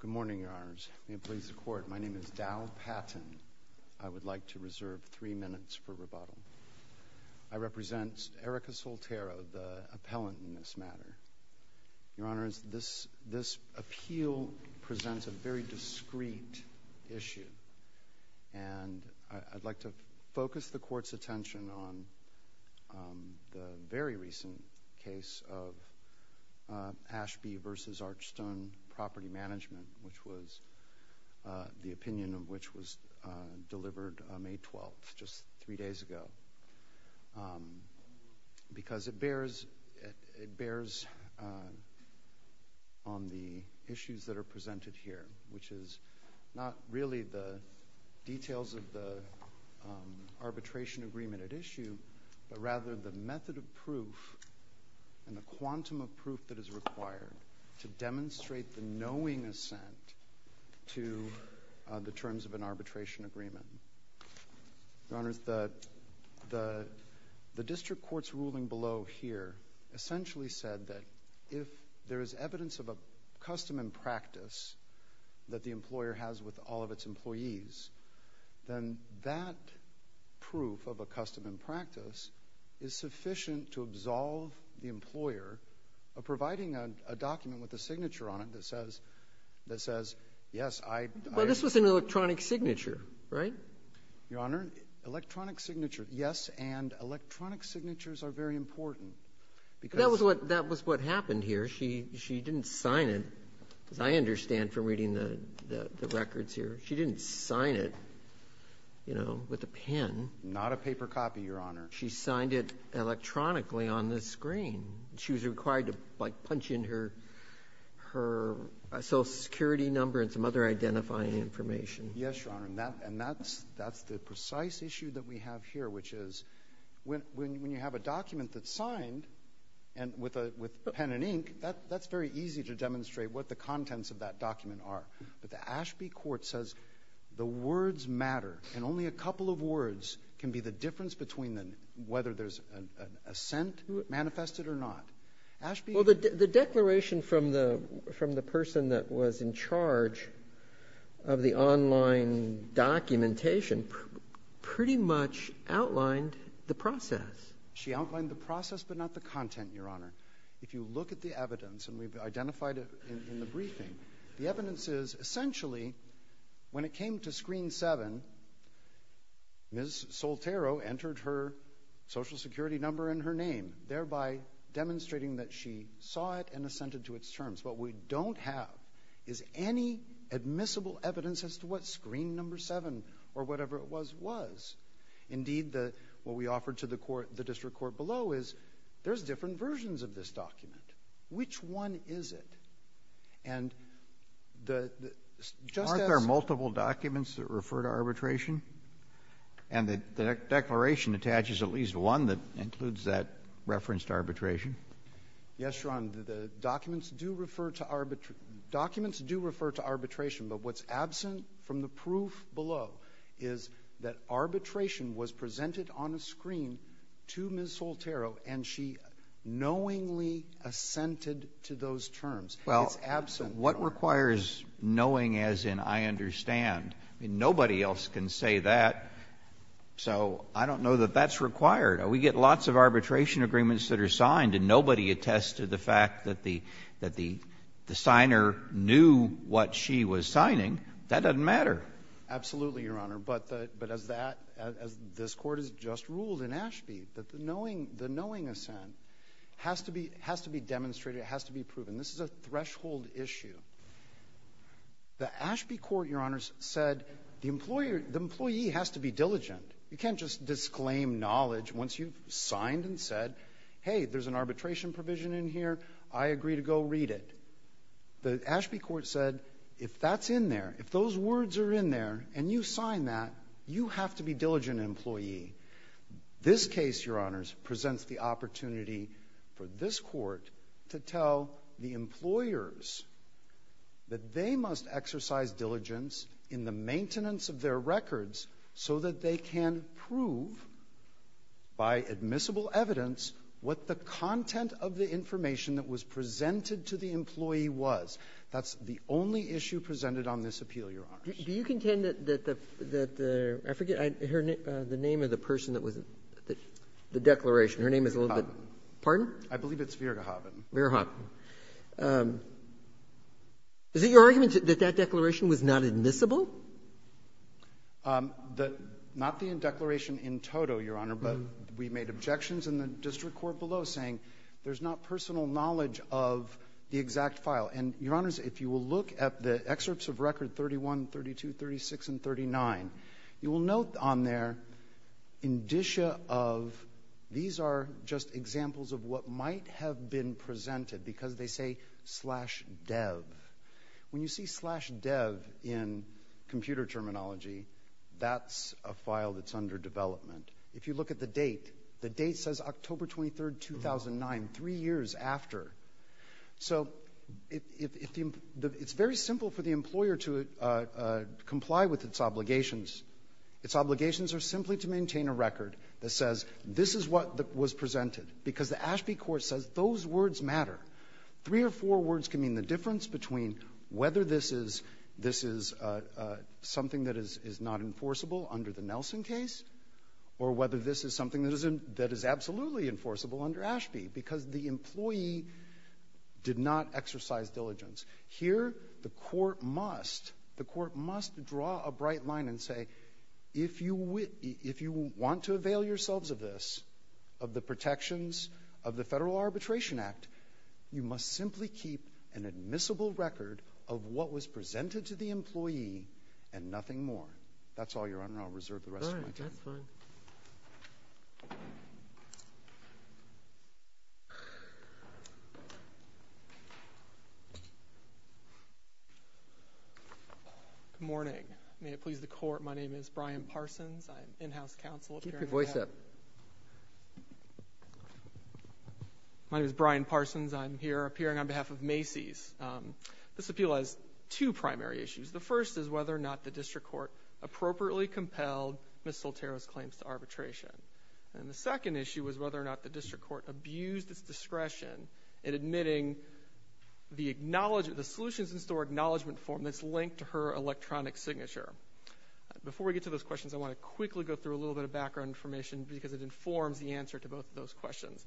Good morning, Your Honors. May it please the Court, my name is Dowl Patton. I would like to reserve three minutes for rebuttal. I represent Erica Soltero, the appellant in this matter. Your Honors, this appeal presents a very discreet issue, and I'd like to focus the Court's attention on the very recent case of Ashby v. Archstone Property Management, the opinion of which was delivered May 12th, just three days ago. Because it bears on the issues that are presented here, which is not really the details of the arbitration agreement at issue, but rather the method of proof and the quantum of proof that is required to demonstrate the knowing assent to the terms of an arbitration agreement. Your Honors, the district court's ruling below here essentially said that if there is evidence of a custom and practice that the employer has with all of its employees, then that proof of a custom and practice is sufficient to absolve the employer of providing a document with a signature on it that says, yes, I... But this was an electronic signature, right? Your Honor, electronic signature, yes, and electronic signatures are very important. That was what happened here. She didn't sign it, as I understand from reading the records here. She didn't sign it with a pen. Not a paper copy, Your Honor. She signed it electronically on the screen. She was required to punch in her social security number and some other identifying information. Yes, Your Honor, and that's the precise issue that we have here, which is when you have a document that's signed with pen and ink, that's very easy to demonstrate what the contents of that document are. But the Ashby court says the words matter, and only a couple of words can be the difference between whether there's an assent manifested or not. Ashby... Well, the declaration from the person that was in charge of the online documentation pretty much outlined the process. She outlined the process but not the content, Your Honor. If you look at the evidence, and we've identified it in the briefing, the evidence is essentially when it came to screen 7, Ms. Soltero entered her social security number and her name, thereby demonstrating that she saw it and assented to its terms. What we don't have is any admissible evidence as to what screen number 7 or whatever it was was. Indeed, what we offered to the district court below is there's different versions of this document. Which one is it? And the... Aren't there multiple documents that refer to arbitration? And the declaration attaches at least one that includes that reference to arbitration. Yes, Your Honor. The documents do refer to arbitration, but what's absent from the proof below is that arbitration was presented on a screen to Ms. Soltero and she knowingly assented to those terms. It's absent. Well, what requires knowing as in I understand? Nobody else can say that, so I don't know that that's required. We get lots of arbitration agreements that are signed and nobody attests to the fact that the signer knew what she was signing. That doesn't matter. Absolutely, Your Honor. But as this Court has just ruled in Ashby, the knowing assent has to be demonstrated. It has to be proven. This is a threshold issue. The Ashby Court, Your Honor, said the employee has to be diligent. You can't just disclaim knowledge once you've signed and said, hey, there's an arbitration provision in here. I agree to go read it. The Ashby Court said if that's in there, if those words are in there and you sign that, you have to be a diligent employee. This case, Your Honors, presents the opportunity for this Court to tell the employers that they must exercise diligence in the maintenance of their records so that they can prove by admissible evidence what the content of the information that was presented to the employee was. That's the only issue presented on this appeal, Your Honors. Do you contend that the — I forget the name of the person that was — the declaration. Her name is a little bit — Verhoeven. Pardon? I believe it's Verhoeven. Verhoeven. Is it your argument that that declaration was not admissible? Not the declaration in toto, Your Honor, but we made objections in the district court below saying there's not personal knowledge of the exact file. And, Your Honors, if you will look at the excerpts of record 31, 32, 36, and 39, you will note on there indicia of — these are just examples of what might have been presented because they say slash dev. When you see slash dev in computer terminology, that's a file that's under development. If you look at the date, the date says October 23, 2009, three years after. So it's very simple for the employer to comply with its obligations. Its obligations are simply to maintain a record that says this is what was presented because the Ashby court says those words matter. Three or four words can mean the difference between whether this is something that is not enforceable under the Nelson case or whether this is something that is absolutely enforceable under Ashby because the employee did not exercise diligence. Here, the court must — the court must draw a bright line and say if you want to avail yourselves of this, of the protections of the Federal Arbitration Act, you must simply keep an admissible record of what was presented to the employee and nothing more. That's all, Your Honor. I'll reserve the rest of my time. Thank you. Good morning. May it please the Court, my name is Brian Parsons. I'm in-house counsel. Keep your voice up. My name is Brian Parsons. I'm here appearing on behalf of Macy's. This appeal has two primary issues. The first is whether or not the district court appropriately compelled Ms. Soltero's claims to arbitration. And the second issue is whether or not the district court abused its discretion in admitting the solutions in store acknowledgement form that's linked to her electronic signature. Before we get to those questions, I want to quickly go through a little bit of background information because it informs the answer to both of those questions.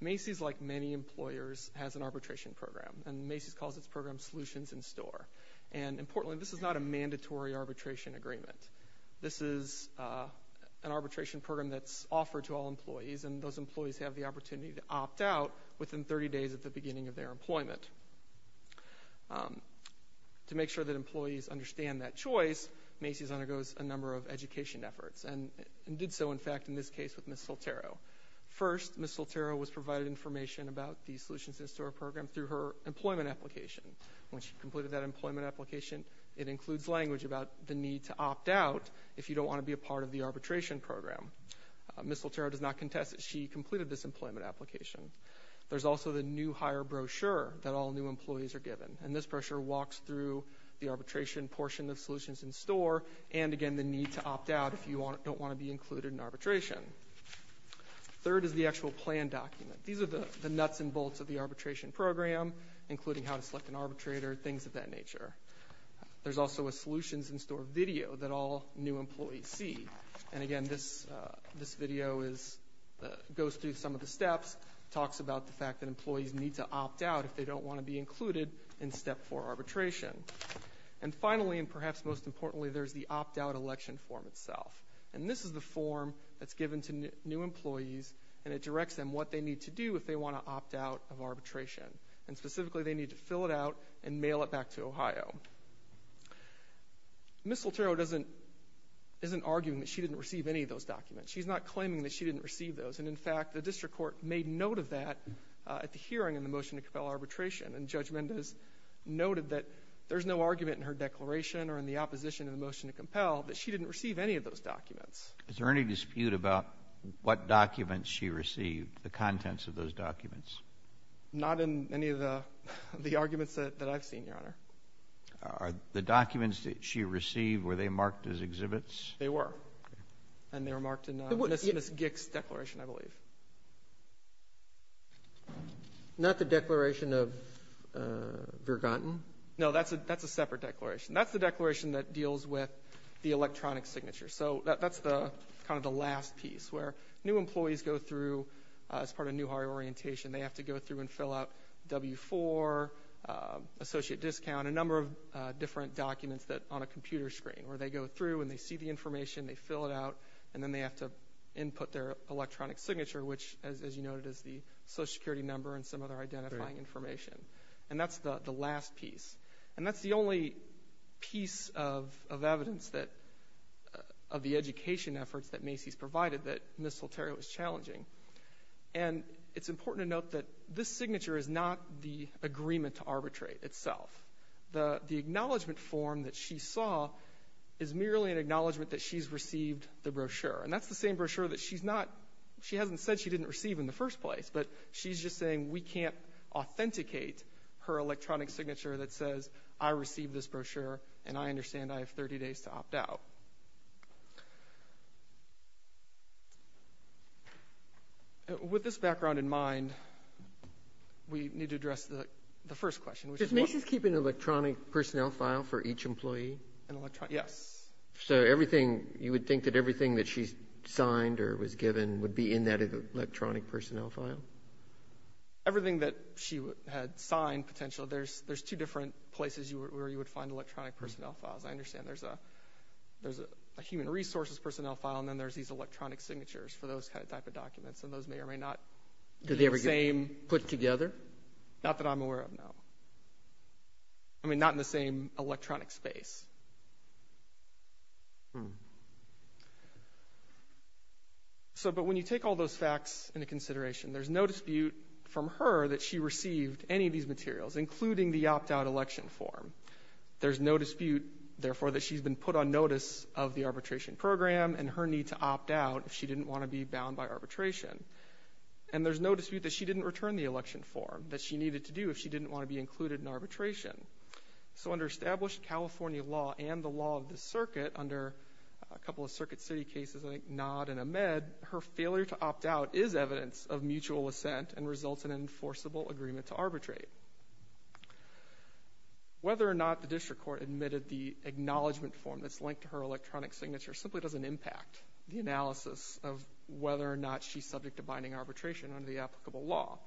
Macy's, like many employers, has an arbitration program, and Macy's calls its program Solutions in Store. And, importantly, this is not a mandatory arbitration agreement. This is an arbitration program that's offered to all employees, and those employees have the opportunity to opt out within 30 days at the beginning of their employment. To make sure that employees understand that choice, Macy's undergoes a number of education efforts, and did so, in fact, in this case with Ms. Soltero. First, Ms. Soltero was provided information about the Solutions in Store program through her employment application. When she completed that employment application, it includes language about the need to opt out if you don't want to be a part of the arbitration program. Ms. Soltero does not contest that she completed this employment application. There's also the new hire brochure that all new employees are given, and this brochure walks through the arbitration portion of Solutions in Store and, again, the need to opt out if you don't want to be included in arbitration. Third is the actual plan document. These are the nuts and bolts of the arbitration program, including how to select an arbitrator, things of that nature. There's also a Solutions in Store video that all new employees see. And, again, this video goes through some of the steps, talks about the fact that employees need to opt out if they don't want to be included in Step 4 arbitration. And finally, and perhaps most importantly, there's the opt-out election form itself. And this is the form that's given to new employees, and it directs them what they need to do if they want to opt out of arbitration. And, specifically, they need to fill it out and mail it back to Ohio. Ms. Soltero isn't arguing that she didn't receive any of those documents. She's not claiming that she didn't receive those. And, in fact, the district court made note of that at the hearing in the motion to compel arbitration, and Judge Mendez noted that there's no argument in her declaration or in the opposition to the motion to compel that she didn't receive any of those documents. Is there any dispute about what documents she received, the contents of those documents? Not in any of the arguments that I've seen, Your Honor. Are the documents that she received, were they marked as exhibits? They were, and they were marked in Ms. Gick's declaration, I believe. Not the declaration of Virganton? No, that's a separate declaration. That's the declaration that deals with the electronic signature. So that's kind of the last piece, where new employees go through, as part of New Ohio Orientation, they have to go through and fill out W-4, associate discount, a number of different documents on a computer screen, where they go through and they see the information, they fill it out, and then they have to input their electronic signature, which, as you noted, is the Social Security number and some other identifying information. And that's the last piece. And that's the only piece of evidence that, of the education efforts that Macy's provided, that Ms. Salterio is challenging. And it's important to note that this signature is not the agreement to arbitrate itself. The acknowledgement form that she saw is merely an acknowledgement that she's received the brochure. And that's the same brochure that she's not, she hasn't said she didn't receive in the first place, but she's just saying we can't authenticate her electronic signature that says, I received this brochure and I understand I have 30 days to opt out. With this background in mind, we need to address the first question. Does Macy's keep an electronic personnel file for each employee? Yes. So everything, you would think that everything that she's signed or was given would be in that electronic personnel file? Everything that she had signed, potentially, there's two different places where you would find electronic personnel files. I understand there's a human resources personnel file, and then there's these electronic signatures for those kind of type of documents, and those may or may not be the same. Did they ever get put together? Not that I'm aware of, no. I mean, not in the same electronic space. So, but when you take all those facts into consideration, there's no dispute from her that she received any of these materials, including the opt-out election form. There's no dispute, therefore, that she's been put on notice of the arbitration program and her need to opt out if she didn't want to be bound by arbitration. And there's no dispute that she didn't return the election form that she needed to do if she didn't want to be included in arbitration. So under established California law and the law of the circuit, under a couple of circuit city cases, like Nod and Ahmed, her failure to opt out is evidence of mutual assent and results in an enforceable agreement to arbitrate. Whether or not the district court admitted the acknowledgement form that's linked to her electronic signature simply doesn't impact the analysis of whether or not she's subject to binding arbitration under the applicable law.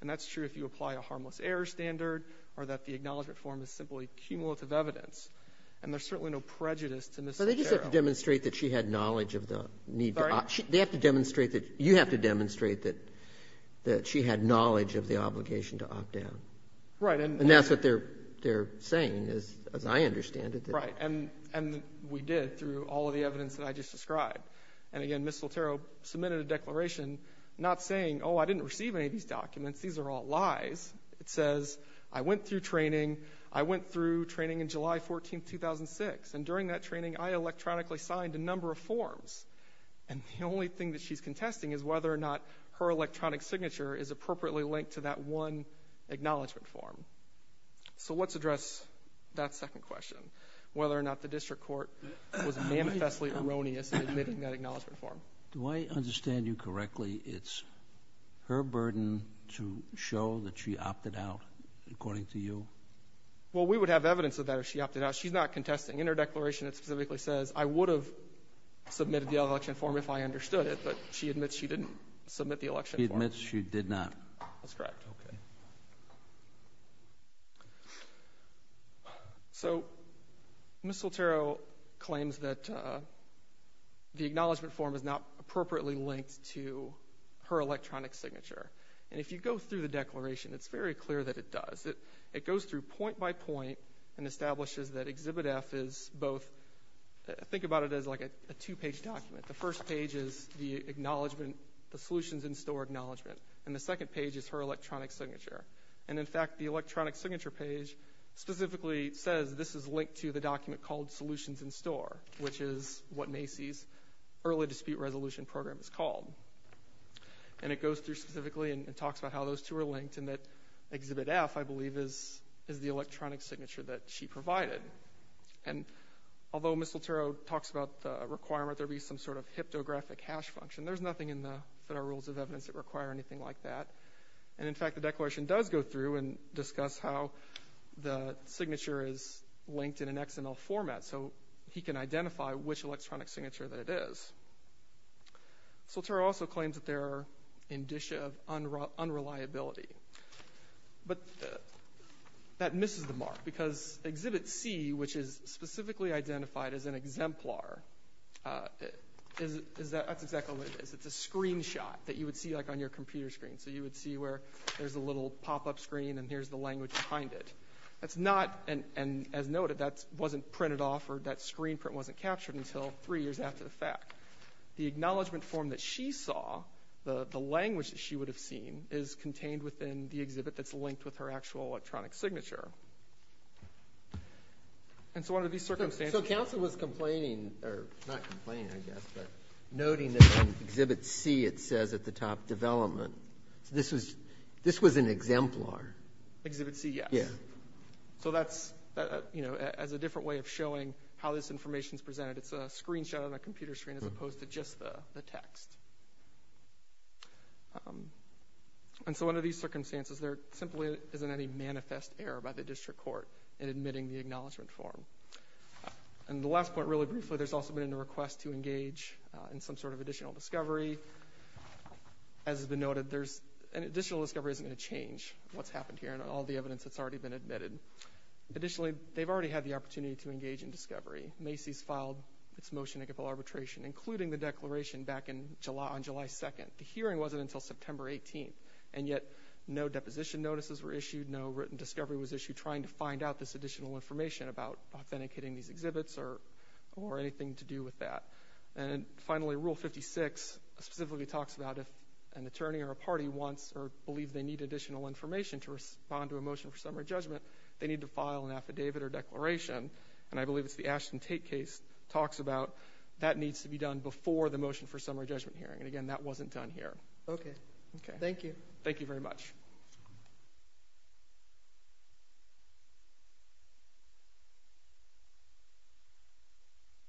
And that's true if you apply a harmless error standard or that the acknowledgement form is simply cumulative evidence. And there's certainly no prejudice to Ms. Soltero. But they just have to demonstrate that she had knowledge of the need to opt. Sorry? They have to demonstrate that you have to demonstrate that she had knowledge of the obligation to opt out. Right. And that's what they're saying, as I understand it. Right. And we did through all of the evidence that I just described. And again, Ms. Soltero submitted a declaration not saying, oh, I didn't receive any of these documents. These are all lies. It says, I went through training. I went through training in July 14, 2006. And during that training, I electronically signed a number of forms. And the only thing that she's contesting is whether or not her electronic signature is appropriately linked to that one acknowledgement form. So let's address that second question, whether or not the district court was manifestly erroneous in admitting that acknowledgement form. Do I understand you correctly? It's her burden to show that she opted out, according to you? Well, we would have evidence of that if she opted out. She's not contesting. In her declaration, it specifically says, I would have submitted the election form if I understood it. But she admits she didn't submit the election form. She admits she did not. That's correct. Okay. So Ms. Soltero claims that the acknowledgement form is not appropriately linked to her electronic signature. And if you go through the declaration, it's very clear that it does. It goes through point by point and establishes that Exhibit F is both – think about it as like a two-page document. The first page is the solutions in store acknowledgement, and the second page is her electronic signature. And, in fact, the electronic signature page specifically says this is linked to the document called solutions in store, which is what Macy's early dispute resolution program is called. And it goes through specifically and talks about how those two are linked and that Exhibit F, I believe, is the electronic signature that she provided. And although Ms. Soltero talks about the requirement there be some sort of hypnographic hash function, there's nothing in the Federal Rules of Evidence that require anything like that. And, in fact, the declaration does go through and discuss how the signature is linked in an XML format so he can identify which electronic signature that it is. Soltero also claims that there are indicia of unreliability. But that misses the mark because Exhibit C, which is specifically identified as an exemplar, that's exactly what it is. It's a screenshot that you would see like on your computer screen. So you would see where there's a little pop-up screen and here's the language behind it. That's not, and as noted, that wasn't printed off or that screen print wasn't captured until three years after the fact. The acknowledgement form that she saw, the language that she would have seen, is contained within the exhibit that's linked with her actual electronic signature. And so under these circumstances... So Council was complaining, or not complaining, I guess, but noting that on Exhibit C it says at the top, development. So this was an exemplar. Exhibit C, yes. So that's a different way of showing how this information is presented. It's a screenshot on a computer screen as opposed to just the text. And so under these circumstances, there simply isn't any manifest error by the district court in admitting the acknowledgement form. And the last point, really briefly, there's also been a request to engage in some sort of additional discovery. As has been noted, an additional discovery isn't going to change what's happened here and all the evidence that's already been admitted. Additionally, they've already had the opportunity to engage in discovery. Macy's filed its motion to give full arbitration, including the declaration back on July 2nd. The hearing wasn't until September 18th, and yet no deposition notices were issued, no written discovery was issued trying to find out this additional information about authenticating these exhibits or anything to do with that. And finally, Rule 56 specifically talks about if an attorney or a party wants or believes they need additional information to respond to a motion for summary judgment, they need to file an affidavit or declaration. And I believe it's the Ashton Tate case talks about that needs to be done before the motion for summary judgment hearing. And again, that wasn't done here. Okay. Thank you. Thank you very much.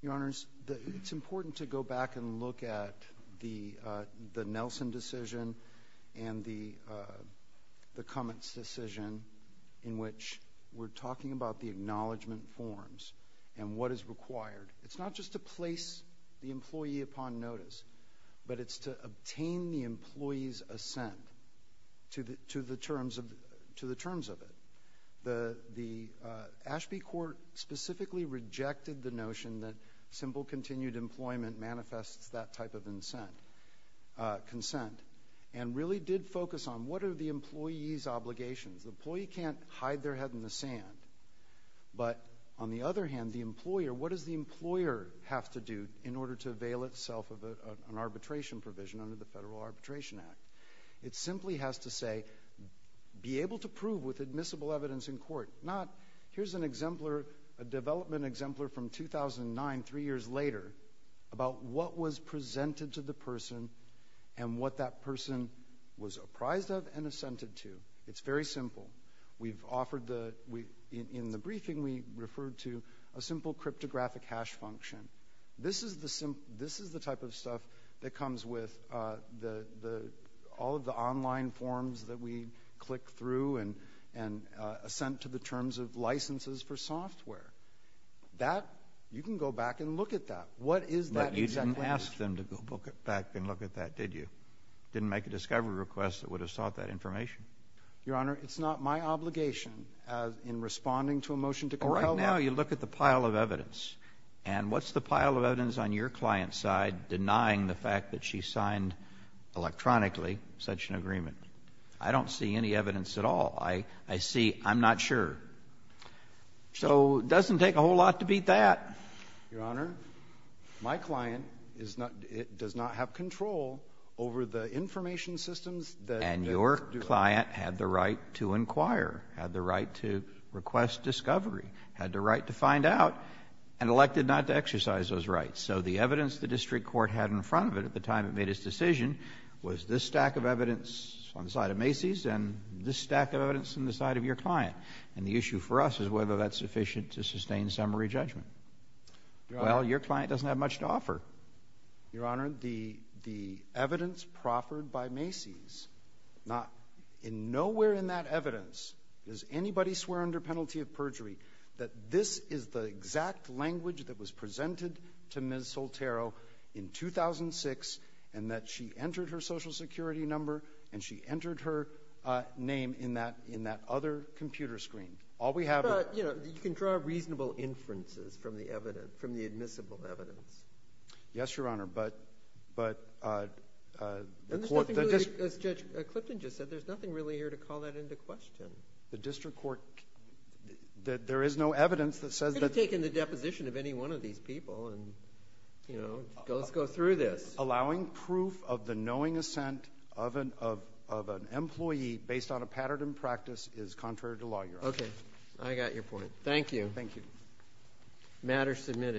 Your Honors, it's important to go back and look at the Nelson decision and the Cummins decision in which we're talking about the acknowledgement forms and what is required. It's not just to place the employee upon notice, but it's to obtain the employee's assent to the terms of it. The Ashby court specifically rejected the notion that simple continued employment manifests that type of consent and really did focus on what are the employee's obligations. The employee can't hide their head in the sand. But on the other hand, the employer, what does the employer have to do in order to avail itself of an arbitration provision under the Federal Arbitration Act? It simply has to say, be able to prove with admissible evidence in court. Not, here's an exemplar, a development exemplar from 2009, three years later, about what was presented to the person and what that person was apprised of and assented to. It's very simple. We've offered the... In the briefing, we referred to a simple cryptographic hash function. This is the type of stuff that comes with all of the online forms that we click through and assent to the terms of licenses for software. That, you can go back and look at that. What is that exactly? But you didn't ask them to go back and look at that, did you? Didn't make a discovery request that would have sought that information. Your Honor, it's not my obligation in responding to a motion to compel them. Well, right now, you look at the pile of evidence, and what's the pile of evidence on your client's side denying the fact that she signed electronically such an agreement? I don't see any evidence at all. I see, I'm not sure. So it doesn't take a whole lot to beat that. Your Honor, my client does not have control over the information systems that... And your client had the right to inquire, had the right to request discovery, had the right to find out, and elected not to exercise those rights. So the evidence the district court had in front of it at the time it made its decision was this stack of evidence on the side of Macy's and this stack of evidence on the side of your client. And the issue for us is whether that's sufficient to sustain summary judgment. Well, your client doesn't have much to offer. Your Honor, the evidence proffered by Macy's, nowhere in that evidence does anybody swear under penalty of perjury that this is the exact language that was presented to Ms. Soltero in 2006 and that she entered her Social Security number and she entered her name in that other computer screen. All we have... But, you know, you can draw reasonable inferences from the admissible evidence. Yes, Your Honor, but... As Judge Clipton just said, there's nothing really here to call that into question. The district court... There is no evidence that says that... You could have taken the deposition of any one of these people and, you know, let's go through this. Allowing proof of the knowing assent of an employee based on a pattern in practice is contrary to law, Your Honor. Okay, I got your point. Thank you. Thank you. Matter submitted.